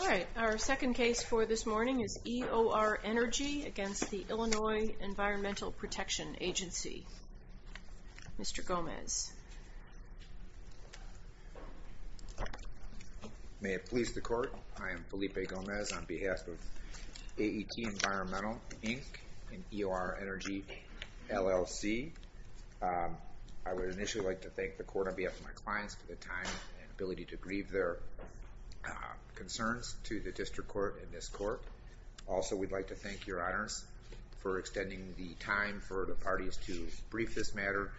All right, our second case for this morning is EOR Energy against the Illinois Environmental Protection Agency. Mr. Gomez. May it please the court, I am Felipe Gomez on behalf of AET Environmental, Inc. and EOR Energy, LLC. I would initially like to thank the court on behalf of my clients for the time and ability to grieve their concerns to the district court and this court. Also we'd like to thank your time for the parties to brief this matter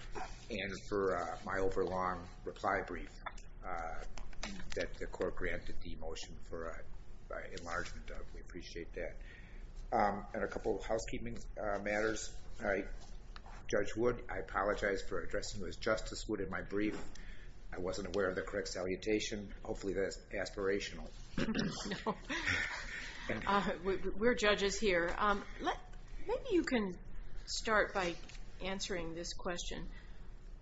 and for my overlong reply brief that the court granted the motion for enlargement of. We appreciate that. And a couple of housekeeping matters. Judge Wood, I apologize for addressing you as Justice Wood in my brief. I wasn't aware of the correct salutation. Hopefully that's aspirational. We're judges here. Maybe you can start by answering this question.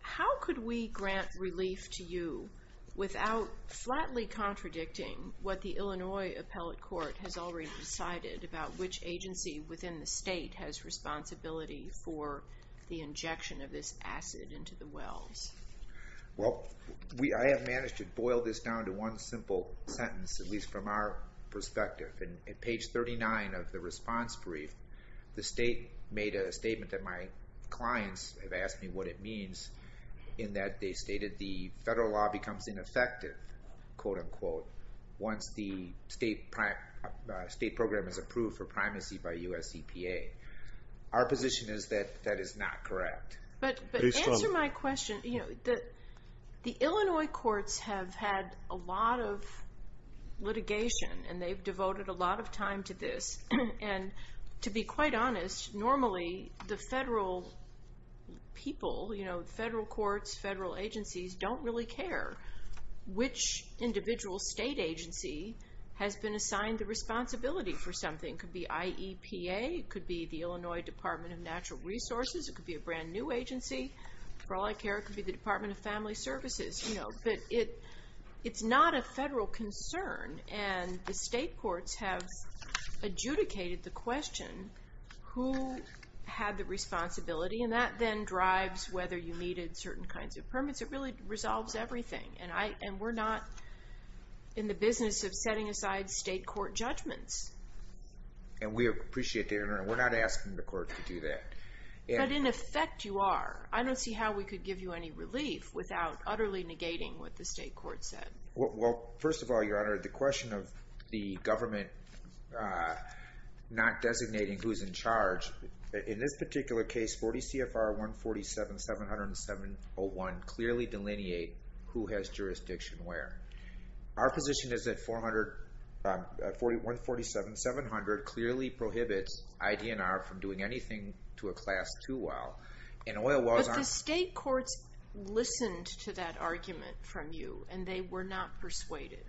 How could we grant relief to you without flatly contradicting what the Illinois Appellate Court has already decided about which agency within the state has responsibility for the injection of this acid into the wells? Well we I have managed to boil this down to one simple sentence at least from our perspective. And at page 39 of the response brief the state made a statement that my clients have asked me what it means in that they stated the federal law becomes ineffective quote-unquote once the state program is approved for primacy by US EPA. Our position is that that is not correct. But answer my question. The Illinois courts have had a lot of litigation and they've devoted a lot of time to this. And to be quite honest normally the federal people you know federal courts, federal agencies don't really care which individual state agency has been assigned the responsibility for something. Could be IEPA, could be the Illinois Department of Family Services, could be a brand new agency. For all I care it could be the Department of Family Services you know. But it it's not a federal concern and the state courts have adjudicated the question who had the responsibility. And that then drives whether you needed certain kinds of permits. It really resolves everything. And we're not in the business of setting aside state court judgments. And we appreciate that. We're not asking the court to do that. But in effect you are. I don't see how we could give you any relief without utterly negating what the state court said. Well first of all your honor the question of the government not designating who's in charge. In this particular case 40 CFR 147 701 clearly delineate who has jurisdiction where. Our position is that 147 700 clearly prohibits ID&R from doing anything to a class 2 well. But the state courts listened to that argument from you and they were not persuaded.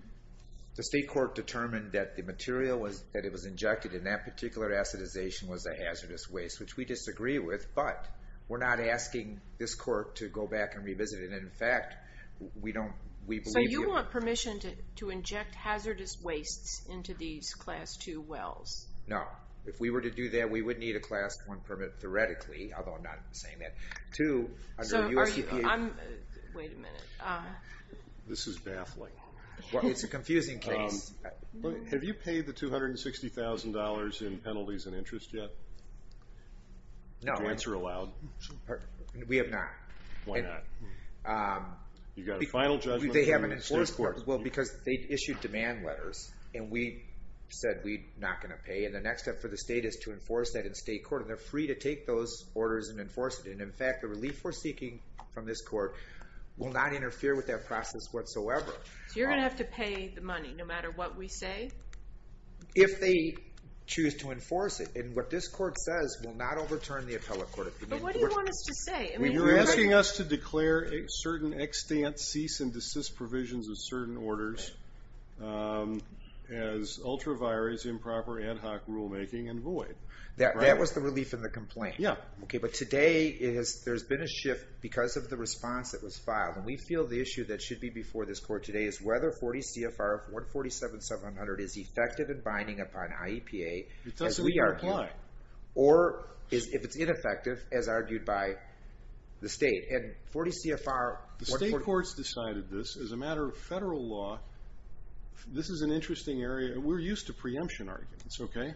The state court determined that the material was that it was injected in that particular acidization was a hazardous waste which we disagree with. But we're not asking this court to go back and revisit it. And in fact we don't we believe you. So you want permission to inject hazardous wastes into these class 2 wells? No. If we were to do that we would need a class 1 permit theoretically. Although I'm not saying that. So wait a minute. This is baffling. Well it's a confusing case. Have you paid the two hundred and sixty thousand dollars in penalties and interest yet? No. Joints are allowed? We have not. Why not? You got a final judgment from the state court? Well because they issued demand letters and we said we're not going to pay. And the next step for the state is to enforce that in state court. They're free to take those orders and enforce it. And in fact the relief we're seeking from this court will not interfere with that process whatsoever. So you're gonna have to pay the money no matter what we say? If they choose to enforce it. And what this court says will not overturn the appellate court. But what do you want us to say? You're asking us to declare a certain extent cease and desist provisions of certain orders as ultra virus improper ad hoc rulemaking and void. That was the relief in the complaint. Yeah. Okay but today is there's been a shift because of the response that was filed. And we feel the issue that should be before this court today is whether 40 CFR 147 700 is effective in binding upon IEPA. It doesn't even apply. Or if it's ineffective as a matter of federal law. This is an interesting area. We're used to preemption arguments. Okay.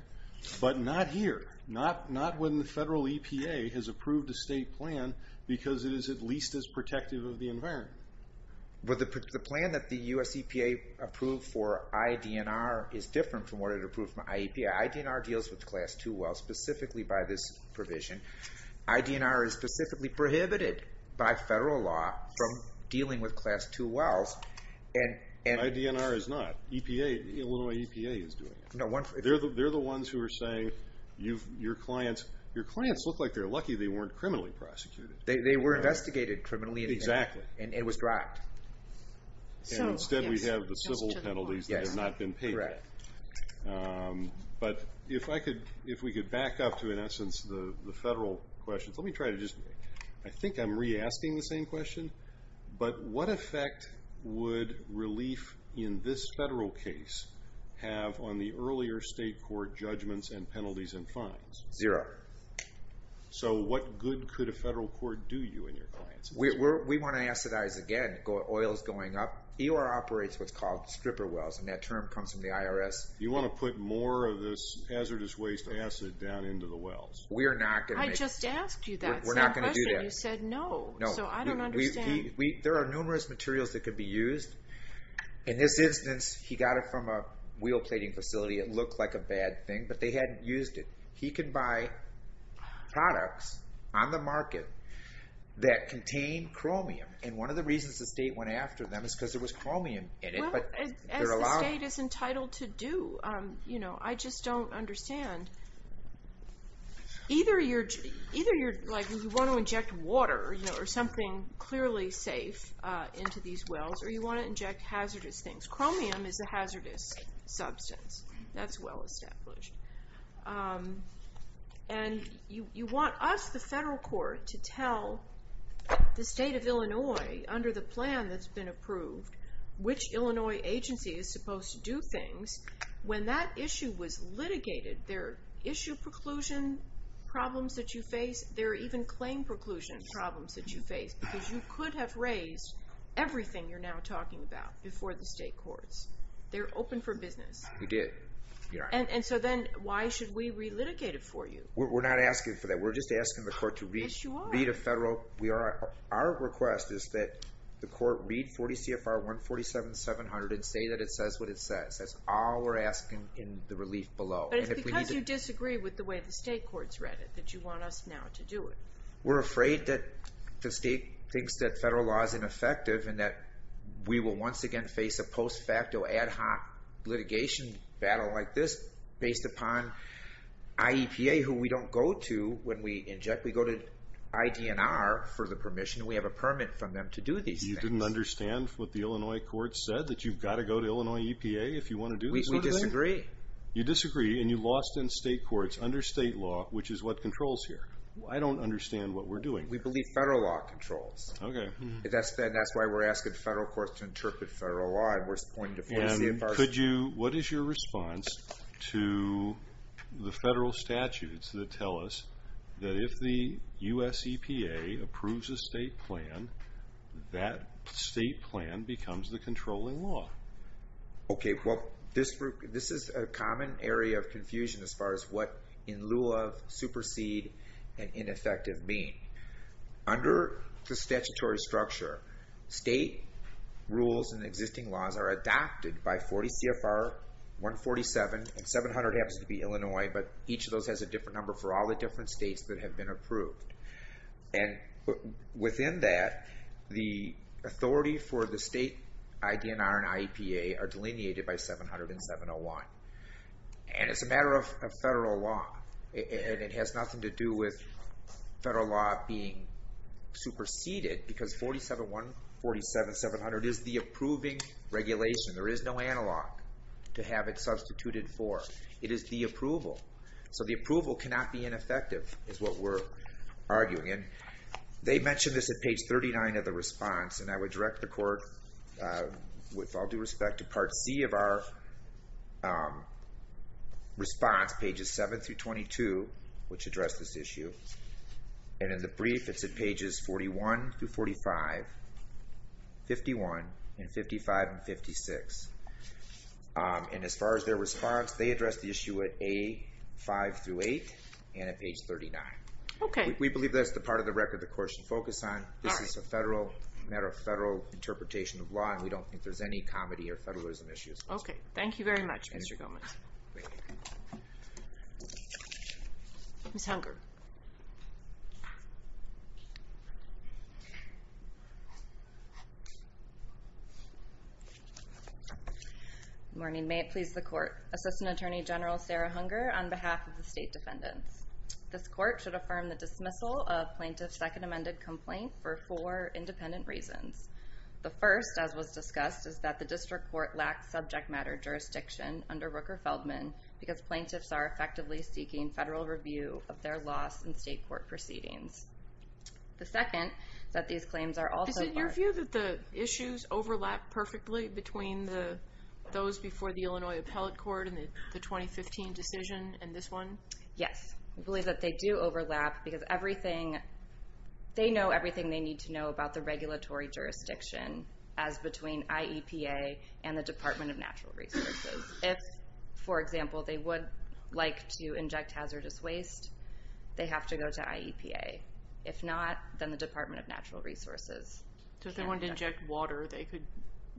But not here. Not not when the federal EPA has approved a state plan because it is at least as protective of the environment. But the plan that the US EPA approved for IDNR is different from what it approved from IEPA. IDNR deals with class 2 well specifically by this dealing with class 2 wells. IDNR is not. EPA is doing it. They're the ones who are saying you've your clients your clients look like they're lucky they weren't criminally prosecuted. They were investigated criminally. Exactly. And it was dropped. So instead we have the civil penalties that have not been paid. But if I could if we could back up to in essence the the federal questions. Let me try to I think I'm re-asking the same question. But what effect would relief in this federal case have on the earlier state court judgments and penalties and fines? Zero. So what good could a federal court do you and your clients? We want to acidize again. Oil is going up. EOR operates what's called stripper wells and that term comes from the IRS. You want to put more of this hazardous waste acid down into the wells. We're not going to. I just asked you that. We're not going to do that. You said no. So I don't understand. There are numerous materials that could be used. In this instance he got it from a wheel plating facility it looked like a bad thing but they hadn't used it. He could buy products on the market that contain chromium and one of the reasons the state went after them is because there was chromium in it. As the state is entitled to do you know I just don't understand. Either you're like you want to inject water or something clearly safe into these wells or you want to inject hazardous things. Chromium is a hazardous substance. That's well established. And you want us the federal court to tell the state of Illinois under the plan that's been approved which Illinois agency is supposed to do things when that issue was litigated. There are issue preclusion problems that you face. There are even claim preclusion problems that you face because you could have raised everything you're now talking about before the state courts. They're open for business. We did. And so then why should we re-litigate it for you? We're not asking for that. We're just asking the court to read a federal. Our request is that the court read 40 CFR 147-700 and say that it says what it says. That's all we're asking in the relief below. But it's because you disagree with the way the state courts read it that you want us now to do it. We're afraid that the state thinks that federal law is ineffective and that we will once again face a post facto ad hoc litigation battle like this based upon IEPA who we don't go to when we inject. We go to IDNR for the permission. We have a permit from them to do these things. You didn't understand what the Illinois court said that you've got to go to Illinois if you want to do this sort of thing? We disagree. You disagree and you lost in state courts under state law which is what controls here. I don't understand what we're doing. We believe federal law controls. Okay. That's why we're asking the federal courts to interpret federal law and we're pointing to 40 CFR 147-700. What is your response to the federal statutes that tell us that if the US EPA approves a state plan that state plan becomes the Well this group this is a common area of confusion as far as what in lieu of supersede and ineffective mean. Under the statutory structure state rules and existing laws are adopted by 40 CFR 147 and 700 happens to be Illinois but each of those has a different number for all the different states that have been approved. And within that the authority for the state IDNR and IEPA are 40 CFR 147-700 and 701. And it's a matter of federal law and it has nothing to do with federal law being superseded because 47-700 is the approving regulation. There is no analog to have it substituted for. It is the approval. So the approval cannot be ineffective is what we're arguing in. They mentioned this at page 39 of the response and I would direct the court with all due respect to part C of our response pages 7-22 which address this issue and in the brief it's at pages 41-45, 51, and 55, and 56. And as far as their response they address the issue at A5-8 and at page 39. Okay. We believe that's the part of the record the court should focus on. This is a federal matter of federal interpretation of law and we don't think there's any comedy or federalism issues. Okay. Thank you very much Mr. Gomez. Ms. Hunger. Good morning. May it please the court. Assistant Attorney General Sarah Hunger on behalf of the state defendants. This court should affirm the dismissal of plaintiff's second amended complaint for four independent reasons. The first, as was discussed, is that the district court lacks subject matter jurisdiction under Rooker-Feldman because plaintiffs are effectively seeking federal review of their loss in state court proceedings. The second, that these claims are also... Is it your view that the issues overlap perfectly between those before the Illinois Appellate Court and the 2015 decision and this one? Yes. We believe that they do they know everything they need to know about the regulatory jurisdiction as between IEPA and the Department of Natural Resources. If, for example, they would like to inject hazardous waste they have to go to IEPA. If not, then the Department of Natural Resources. So if they wanted to inject water they could...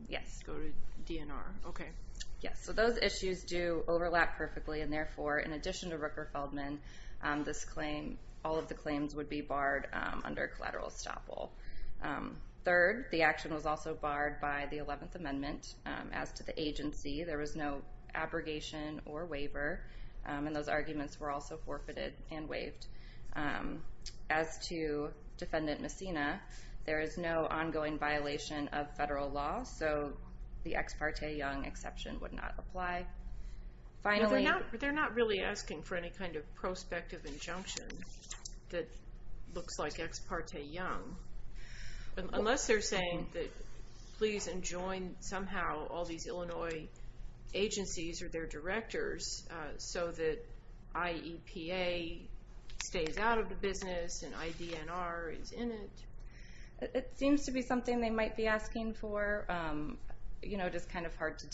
Yes. Go to DNR. Okay. Yes. So those issues do overlap perfectly and therefore in addition to Rooker-Feldman this claim, all of the claims, would be barred under collateral estoppel. Third, the action was also barred by the 11th Amendment as to the agency. There was no abrogation or waiver and those arguments were also forfeited and waived. As to Defendant Messina, there is no ongoing violation of federal law so the Ex parte Young exception would not apply. Finally... They're not really asking for any kind of prospective injunction that looks like Ex parte Young unless they're saying that please enjoin somehow all these Illinois agencies or their directors so that IEPA stays out of the business and IDNR is in it. It seems to be something they might be asking for, you know, just kind of hard to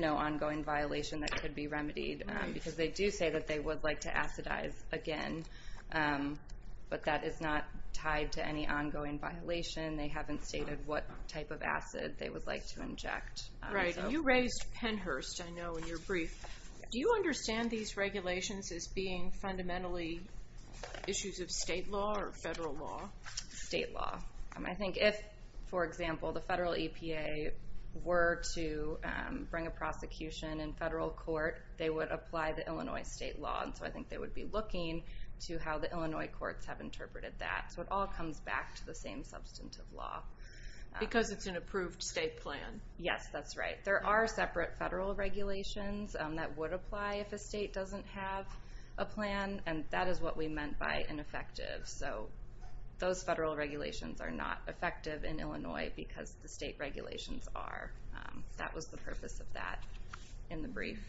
know ongoing violation that could be remedied because they do say that they would like to acidize again but that is not tied to any ongoing violation. They haven't stated what type of acid they would like to inject. Right. You raised Pennhurst, I know, in your brief. Do you understand these regulations as being fundamentally issues of state law or federal law? State law. I think if, for example, if the federal EPA were to bring a prosecution in federal court, they would apply the Illinois state law and so I think they would be looking to how the Illinois courts have interpreted that. So it all comes back to the same substantive law. Because it's an approved state plan. Yes, that's right. There are separate federal regulations that would apply if a state doesn't have a plan and that is what we meant by ineffective. So those federal regulations are not effective in Illinois because the state regulations are. That was the purpose of that in the brief.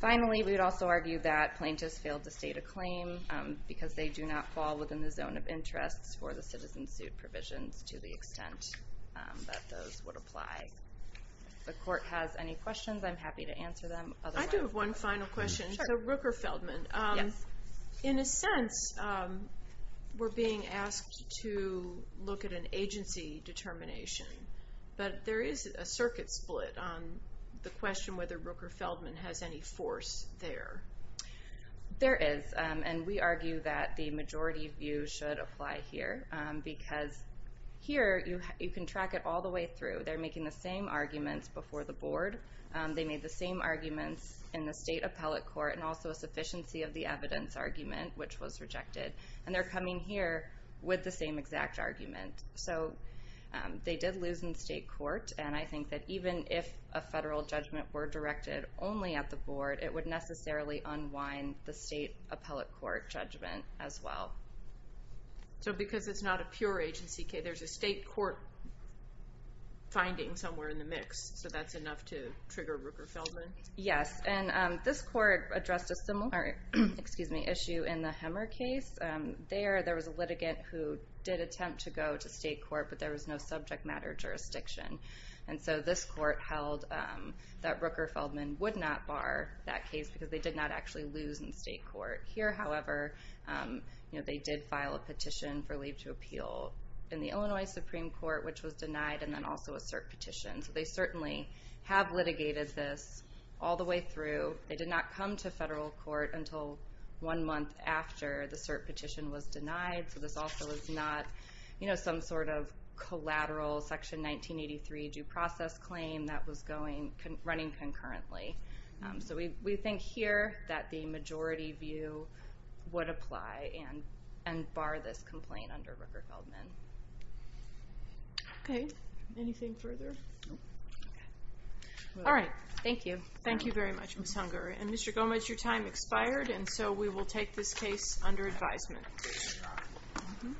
Finally, we would also argue that plaintiffs failed to state a claim because they do not fall within the zone of interests for the citizen suit provisions to the extent that those would apply. If the court has any questions, I'm happy to answer them. I do have one final question. So Rooker-Feldman, in a to look at an agency determination, but there is a circuit split on the question whether Rooker-Feldman has any force there. There is and we argue that the majority view should apply here because here you can track it all the way through. They're making the same arguments before the board. They made the same arguments in the state appellate court and also a sufficiency of the same exact argument. So they did lose in state court and I think that even if a federal judgment were directed only at the board, it would necessarily unwind the state appellate court judgment as well. So because it's not a pure agency case, there's a state court finding somewhere in the mix, so that's enough to trigger Rooker-Feldman? Yes, and this court addressed a similar issue in the did attempt to go to state court, but there was no subject matter jurisdiction. And so this court held that Rooker-Feldman would not bar that case because they did not actually lose in state court. Here, however, they did file a petition for leave to appeal in the Illinois Supreme Court, which was denied and then also a cert petition. So they certainly have litigated this all the way through. They did not come to federal court until one month after the case was filed. So this is not some sort of collateral Section 1983 due process claim that was running concurrently. So we think here that the majority view would apply and bar this complaint under Rooker-Feldman. Okay, anything further? Alright, thank you. Thank you very much, Ms. Hunger. And Mr. Gomez, your time expired, and so we will take this case under advisement. Thank you.